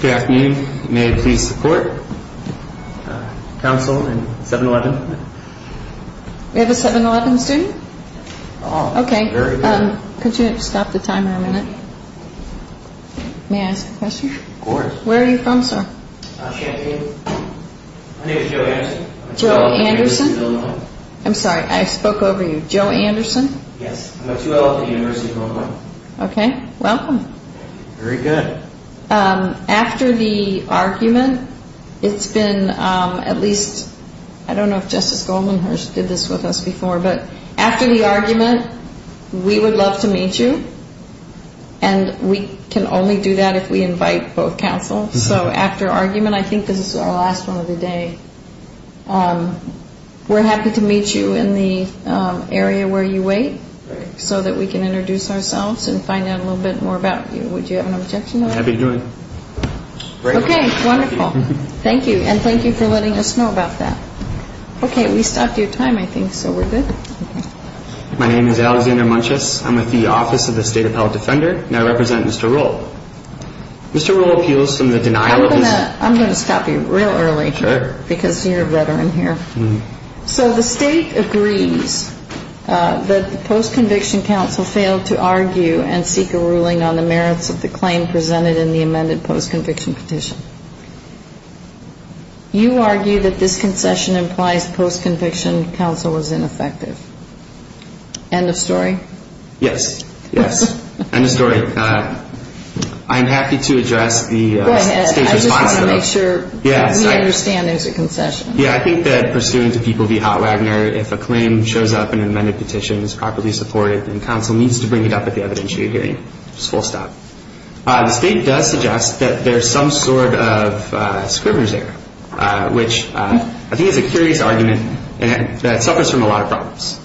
Good afternoon. May it please the court. Counsel in 7-11. We have a 7-11 student? Okay. Could you stop the timer a minute? May I ask a question? Of course. Where are you from, sir? Champaign. My name is Joe Anderson. Joe Anderson? I'm sorry, I spoke over you. Joe Anderson? Yes. I'm a 2L at the University of Illinois. Okay. Welcome. Very good. After the argument, it's been at least, I don't know if Justice Goldman did this with us before, but after the argument, we would love to meet you, and we can only do that if we invite both counsels. So after argument, I think this is our last one of the day, we're happy to meet you in the area where you wait so that we can introduce ourselves and find out a little bit more about you. Would you have an objection to that? I'd be happy to do it. Okay. Wonderful. Thank you. And thank you for letting us know about that. Okay. We stopped your time, I think, so we're good. My name is Alexander Munches. I'm with the Office of the State Appellate Defender, and I represent Mr. Roehl. Mr. Roehl appeals from the denial of his- I'm going to stop you real early because you're a veteran here. So the state agrees that the post-conviction counsel failed to argue and seek a ruling on the merits of the claim presented in the amended post-conviction petition. You argue that this concession implies post-conviction counsel was ineffective. End of story? Yes. Yes. End of story. I'm happy to address the state's response to that. Go ahead. I just want to make sure we understand there's a concession. Yeah, I think that pursuant to people v. Hotwagoner, if a claim shows up in an amended petition that's properly supported, then counsel needs to bring it up at the evidentiary hearing. Just full stop. The state does suggest that there's some sort of Scribner's error, which I think is a curious argument that suffers from a lot of problems.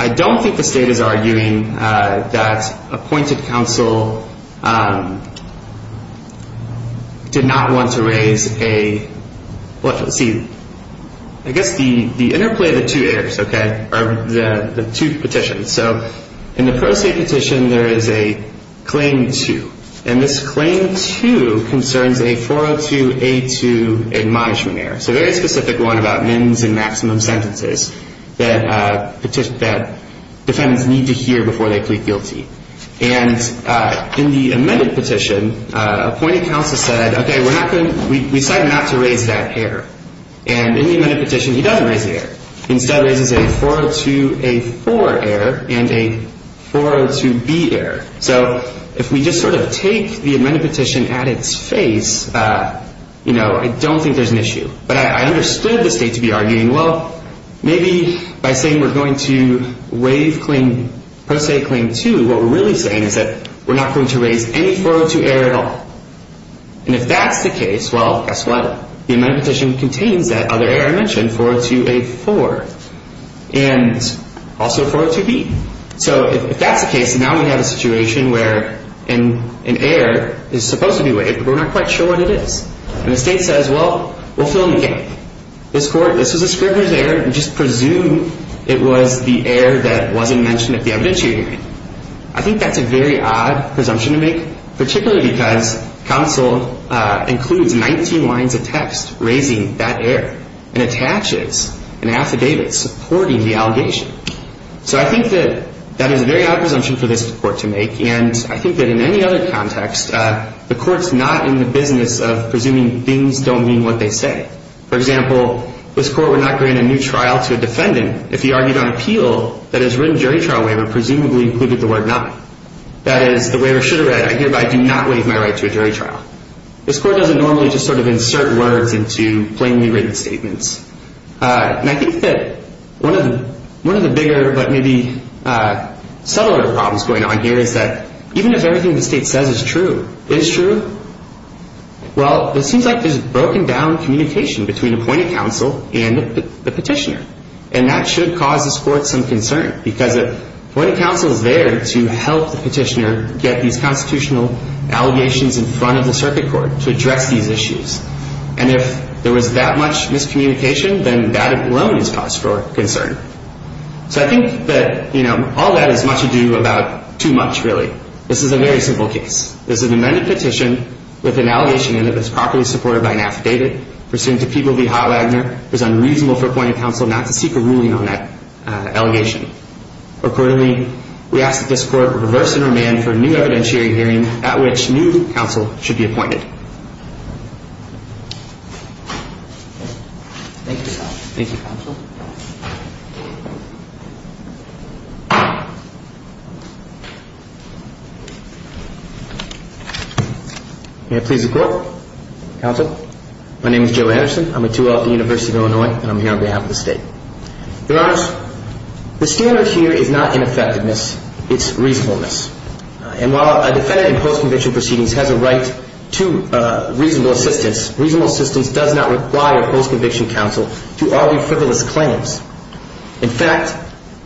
I don't think the state is arguing that appointed counsel did not want to raise a- well, let's see. I guess the interplay of the two errors, okay, are the two petitions. So in the pro se petition, there is a Claim 2, and this Claim 2 concerns a 402A2 admonishment error, so a very specific one about mins and maximum sentences that defendants need to hear before they plead guilty. And in the amended petition, appointed counsel said, okay, we decided not to raise that error. And in the amended petition, he doesn't raise the error. He instead raises a 402A4 error and a 402B error. So if we just sort of take the amended petition at its face, you know, I don't think there's an issue. But I understood the state to be arguing, well, maybe by saying we're going to waive Pro Se Claim 2, what we're really saying is that we're not going to raise any 402 error at all. And if that's the case, well, guess what? The amended petition contains that other error I mentioned, 402A4, and also 402B. So if that's the case, now we have a situation where an error is supposed to be waived, but we're not quite sure what it is. And the state says, well, we'll fill in the gap. This was a scrivener's error. Just presume it was the error that wasn't mentioned at the evidence hearing. I think that's a very odd presumption to make, particularly because counsel includes 19 lines of text raising that error and attaches an affidavit supporting the allegation. So I think that that is a very odd presumption for this court to make, and I think that in any other context the court's not in the business of presuming things don't mean what they say. For example, this court would not grant a new trial to a defendant if he argued on appeal that his written jury trial waiver presumably included the word not. That is, the waiver should have read, I hereby do not waive my right to a jury trial. This court doesn't normally just sort of insert words into plainly written statements. And I think that one of the bigger but maybe subtler problems going on here is that even if everything the state says is true, is true, well, it seems like there's broken down communication between appointed counsel and the petitioner. And that should cause this court some concern, because appointed counsel is there to help the petitioner get these constitutional allegations in front of the circuit court to address these issues. And if there was that much miscommunication, then that alone is cause for concern. So I think that, you know, all that is much ado about too much, really. This is a very simple case. This is an amended petition with an allegation in it that's properly supported by an affidavit pursuant to People v. Hotwagner. It is unreasonable for appointed counsel not to seek a ruling on that allegation. Accordingly, we ask that this court reverse and remand for a new evidentiary hearing at which new counsel should be appointed. Thank you. Thank you, counsel. May I please the court? Counsel? My name is Joe Anderson. I'm a 2L at the University of Illinois, and I'm here on behalf of the state. Your Honors, the standard here is not ineffectiveness. It's reasonableness. And while a defendant in post-conviction proceedings has a right to reasonable assistance, reasonable assistance does not require post-conviction counsel to argue frivolous claims. In fact,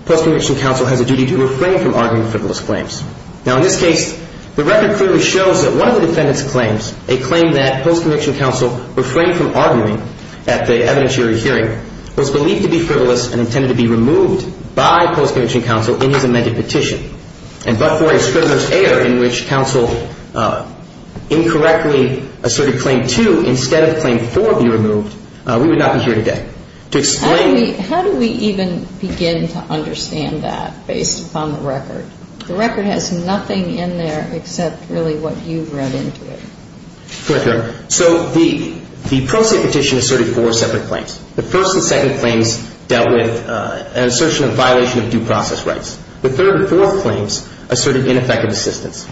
post-conviction counsel has a duty to refrain from arguing frivolous claims. Now, in this case, the record clearly shows that one of the defendant's claims, a claim that post-conviction counsel refrained from arguing at the evidentiary hearing, was believed to be frivolous and intended to be removed by post-conviction counsel in his amended petition. And but for a scrivener's error in which counsel incorrectly asserted claim 2 instead of claim 4 be removed, we would not be here today. To explain the How do we even begin to understand that based upon the record? The record has nothing in there except really what you've read into it. Correct, Your Honor. So the pro se petition asserted four separate claims. The first and second claims dealt with an assertion of violation of due process rights. The third and fourth claims asserted ineffective assistance.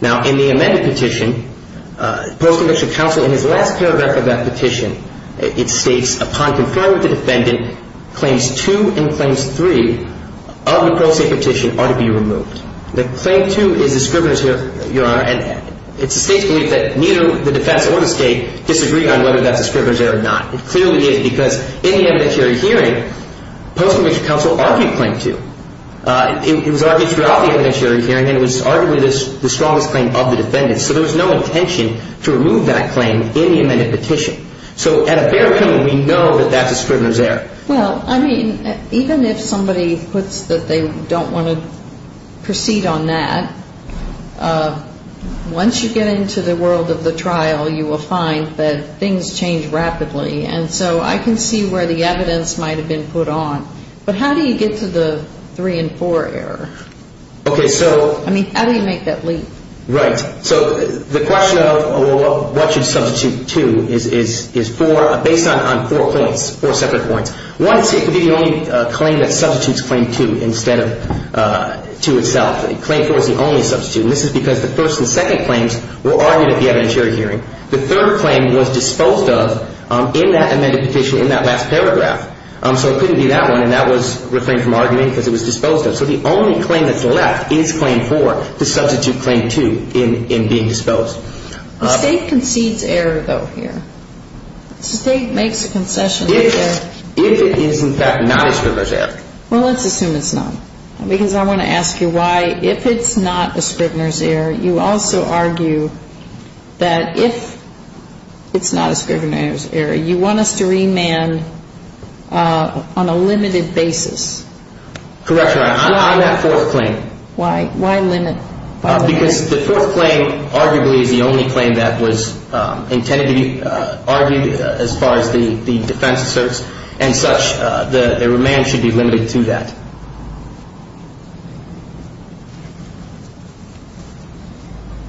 Now, in the amended petition, post-conviction counsel in his last paragraph of that petition, it states, upon conferring with the defendant, claims 2 and claims 3 of the pro se petition are to be removed. The claim 2 is a scrivener's error, Your Honor, and it's the State's belief that neither the defense or the State disagree on whether that's a scrivener's error or not. It clearly is because in the evidentiary hearing, post-conviction counsel argued claim 2. It was argued throughout the evidentiary hearing, and it was arguably the strongest claim of the defendant. So there was no intention to remove that claim in the amended petition. So at a fair hearing, we know that that's a scrivener's error. Well, I mean, even if somebody puts that they don't want to proceed on that, once you get into the world of the trial, you will find that things change rapidly. And so I can see where the evidence might have been put on. But how do you get to the 3 and 4 error? Okay, so. I mean, how do you make that leap? Right. So the question of what should substitute 2 is based on four points, four separate points. One is it could be the only claim that substitutes claim 2 instead of 2 itself. Claim 4 is the only substitute, and this is because the first and second claims were argued at the evidentiary hearing. The third claim was disposed of in that amended petition in that last paragraph. So it couldn't be that one, and that was refrained from arguing because it was disposed of. So the only claim that's left is claim 4 to substitute claim 2 in being disposed. The State concedes error, though, here. The State makes a concession. If it is, in fact, not a scrivener's error. Well, let's assume it's not, because I want to ask you why. If it's not a scrivener's error, you also argue that if it's not a scrivener's error, you want us to remand on a limited basis. Correct, Your Honor. On that fourth claim. Why? Why limit? Because the fourth claim arguably is the only claim that was intended to be argued as far as the defense asserts, and such, the remand should be limited to that.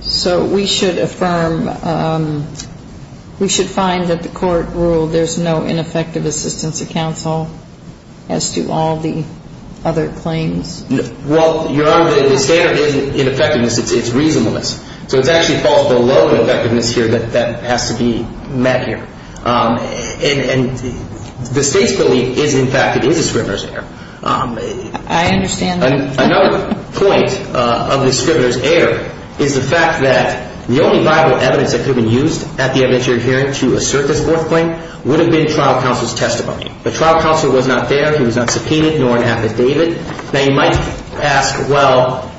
So we should affirm, we should find that the court ruled there's no ineffective assistance to counsel as to all the other claims? Well, Your Honor, the standard is ineffectiveness. It's reasonableness. So it actually falls below the effectiveness here that has to be met here. And the State's belief is, in fact, it is a scrivener's error. I understand that. Another point of the scrivener's error is the fact that the only viable evidence that could have been used at the evidentiary hearing to assert this fourth claim would have been trial counsel's testimony. The trial counsel was not there. He was not subpoenaed nor an affidavit. Now, you might ask, well,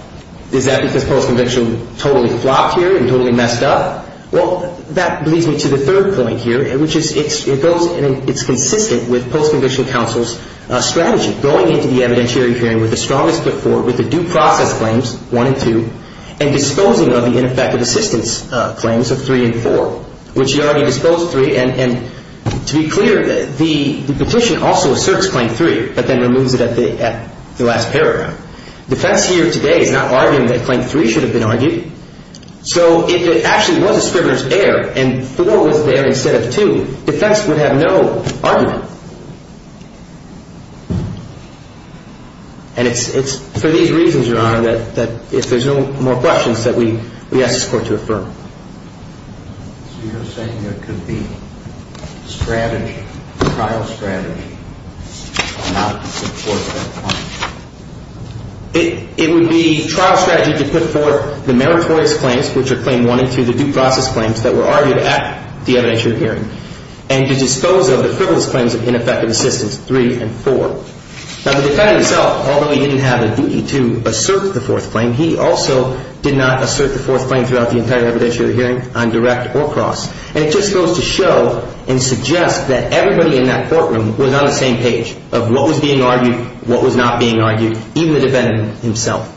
is that because post-conviction totally flopped here and totally messed up? Well, that leads me to the third point here, which is it's consistent with post-conviction counsel's strategy, going into the evidentiary hearing with the strongest foot forward, with the due process claims, 1 and 2, and disposing of the ineffective assistance claims of 3 and 4, which he already disposed of 3. And to be clear, the petition also asserts Claim 3, but then removes it at the last paragraph. Defense here today is not arguing that Claim 3 should have been argued. So if it actually was a scrivener's error and 4 was there instead of 2, defense would have no argument. And it's for these reasons, Your Honor, that if there's no more questions, that we ask this Court to affirm. So you're saying there could be strategy, trial strategy, to try not to put forth that claim? It would be trial strategy to put forth the meritorious claims, which are Claim 1 and 2, the due process claims that were argued at the evidentiary hearing, and to dispose of the frivolous claims of ineffective assistance, 3 and 4. Now, the defendant himself, although he didn't have a duty to assert the fourth claim, he also did not assert the fourth claim throughout the entire evidentiary hearing on direct or cross. And it just goes to show and suggest that everybody in that courtroom was on the same page of what was being argued, what was not being argued, even the defendant himself.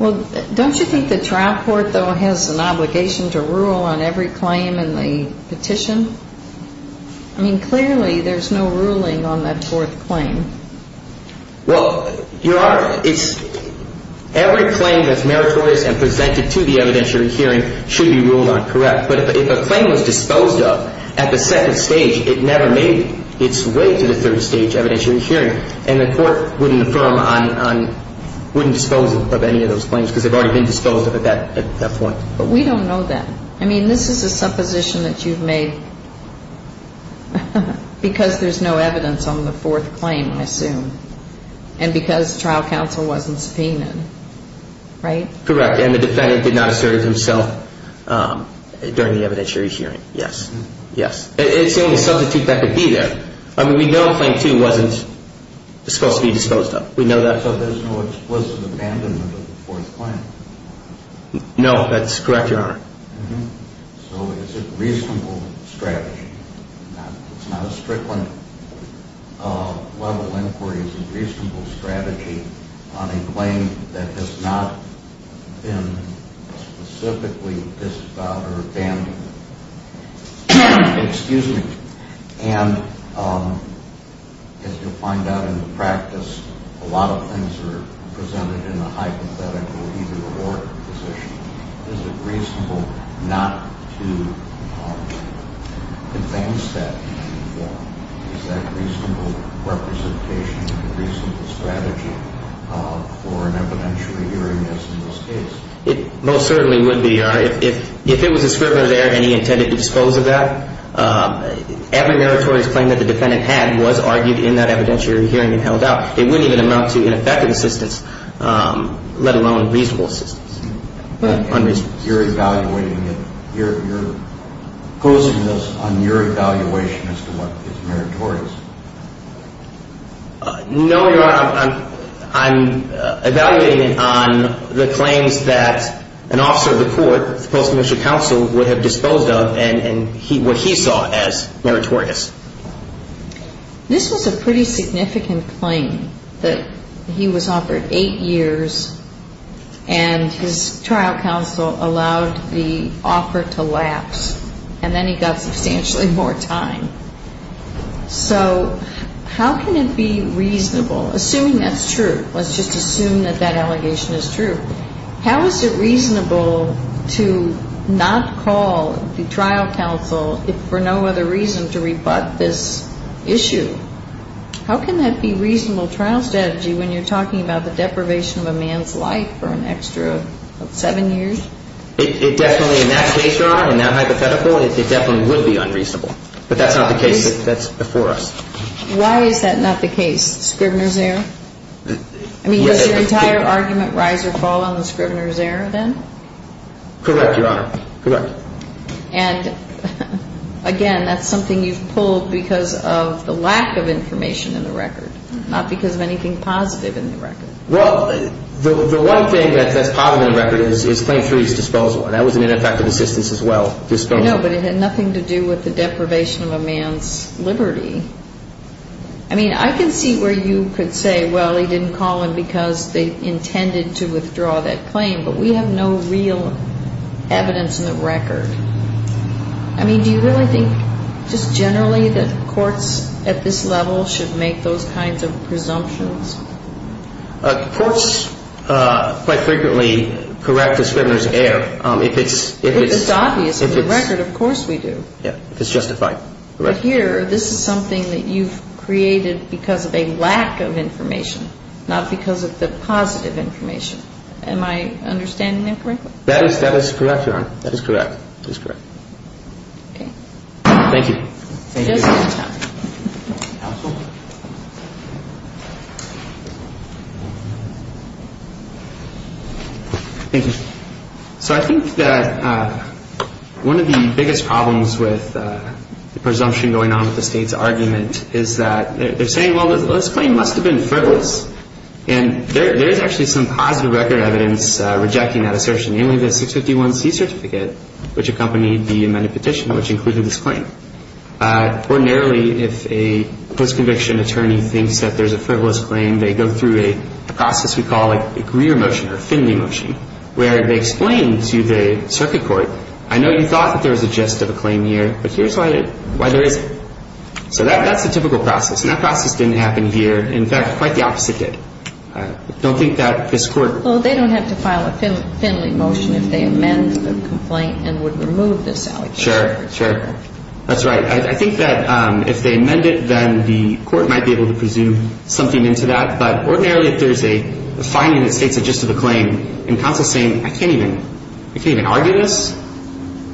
Well, don't you think the trial court, though, has an obligation to rule on every claim in the petition? I mean, clearly there's no ruling on that fourth claim. Well, Your Honor, every claim that's meritorious and presented to the evidentiary hearing should be ruled on correct. But if a claim was disposed of at the second stage, it never made its way to the third stage evidentiary hearing, and the court wouldn't affirm on, wouldn't dispose of any of those claims because they've already been disposed of at that point. But we don't know that. I mean, this is a supposition that you've made because there's no evidence on the fourth claim, I assume, and because trial counsel wasn't subpoenaed, right? Correct, and the defendant did not assert it himself during the evidentiary hearing. Yes, yes. It's the only substitute that could be there. I mean, we know claim two wasn't supposed to be disposed of. We know that. So there's no explicit abandonment of the fourth claim? No, that's correct, Your Honor. So it's a reasonable strategy. It's not a Strickland-level inquiry. It's a reasonable strategy on a claim that has not been specifically disavowed or abandoned. Excuse me. And as you'll find out in the practice, a lot of things are presented in a hypothetical either-or position. Is it reasonable not to advance that? Is that reasonable representation and a reasonable strategy for an evidentiary hearing, as in this case? It most certainly would be, Your Honor. If it was a scrivener there and he intended to dispose of that, every meritorious claim that the defendant had was argued in that evidentiary hearing and held out. It wouldn't even amount to ineffective assistance, let alone reasonable assistance. You're evaluating it. You're posing this on your evaluation as to what is meritorious. No, Your Honor. I'm evaluating it on the claims that an officer of the court, the Post-Commissioner Counsel, would have disposed of and what he saw as meritorious. This was a pretty significant claim, that he was offered eight years and his trial counsel allowed the offer to lapse, and then he got substantially more time. So how can it be reasonable, assuming that's true, let's just assume that that allegation is true, how is it reasonable to not call the trial counsel for no other reason to rebut this issue? How can that be reasonable trial strategy when you're talking about the deprivation of a man's life for an extra seven years? It definitely, in that case, Your Honor, in that hypothetical, it definitely would be unreasonable. But that's not the case. That's before us. Why is that not the case, Scrivener's error? I mean, does your entire argument rise or fall on the Scrivener's error, then? Correct, Your Honor. Correct. And, again, that's something you've pulled because of the lack of information in the record, not because of anything positive in the record. Well, the one thing that's positive in the record is Claim 3's disposal, and that was an ineffective assistance as well, disposal. I know, but it had nothing to do with the deprivation of a man's liberty. I mean, I can see where you could say, well, he didn't call in because they intended to withdraw that claim, but we have no real evidence in the record. I mean, do you really think just generally that courts at this level should make those kinds of presumptions? Courts quite frequently correct the Scrivener's error if it's – If it's obvious in the record, of course we do. Yeah, if it's justified. Correct. But here, this is something that you've created because of a lack of information, not because of the positive information. Am I understanding that correctly? That is correct, Your Honor. That is correct. That is correct. Okay. Thank you. Thank you. Just in time. Counsel? Thank you. So I think that one of the biggest problems with the presumption going on with the State's argument is that they're saying, well, this claim must have been frivolous. And there is actually some positive record evidence rejecting that assertion, namely the 651C certificate, which accompanied the amended petition, which included this claim. Ordinarily, if a post-conviction attorney thinks that there's a frivolous claim, they go through a process we call a Greer motion or a Finley motion, where they explain to the circuit court, I know you thought that there was a gist of a claim here, but here's why there isn't. So that's a typical process. And that process didn't happen here. In fact, quite the opposite did. I don't think that this Court – Well, they don't have to file a Finley motion if they amend the complaint and would remove this allegation. Sure. Sure. That's right. I think that if they amend it, then the Court might be able to presume something into that. But ordinarily, if there's a finding that states a gist of a claim and counsel is saying, I can't even argue this,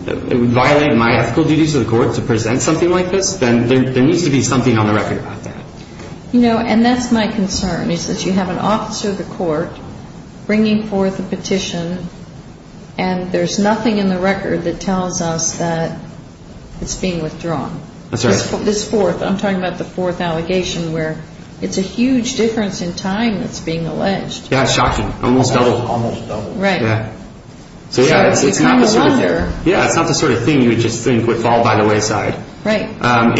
it would violate my ethical duties of the Court to present something like this, then there needs to be something on the record about that. You know, and that's my concern, is that you have an officer of the Court bringing forth a petition, and there's nothing in the record that tells us that it's being withdrawn. That's right. This fourth. I'm talking about the fourth allegation where it's a huge difference in time that's being alleged. Yeah, shocking. Almost double. Almost double. Right. So, yeah, it's not the sort of thing you would just think would fall by the wayside. Right. And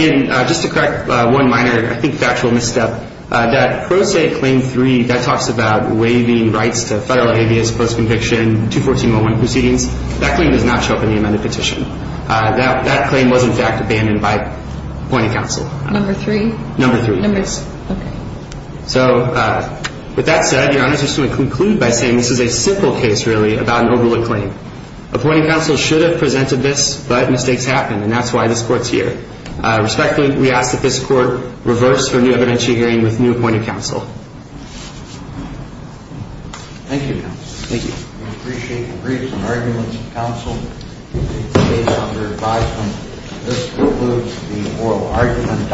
just to correct one minor, I think factual misstep, that Pro Se Claim 3, that talks about waiving rights to federal alias post-conviction, 214.1 proceedings. That claim does not show up in the amended petition. That claim was, in fact, abandoned by appointing counsel. Number three? Number three. Numbers. Okay. So, with that said, Your Honors, just to conclude by saying this is a simple case, really, about an overlooked claim. Appointing counsel should have presented this, but mistakes happen, and that's why this Court's here. Respectfully, we ask that this Court reverse for new evidentiary hearing with new appointed counsel. Thank you, Your Honors. Thank you. We appreciate the briefs and arguments of counsel. Please stay on your advice. This concludes the oral argument.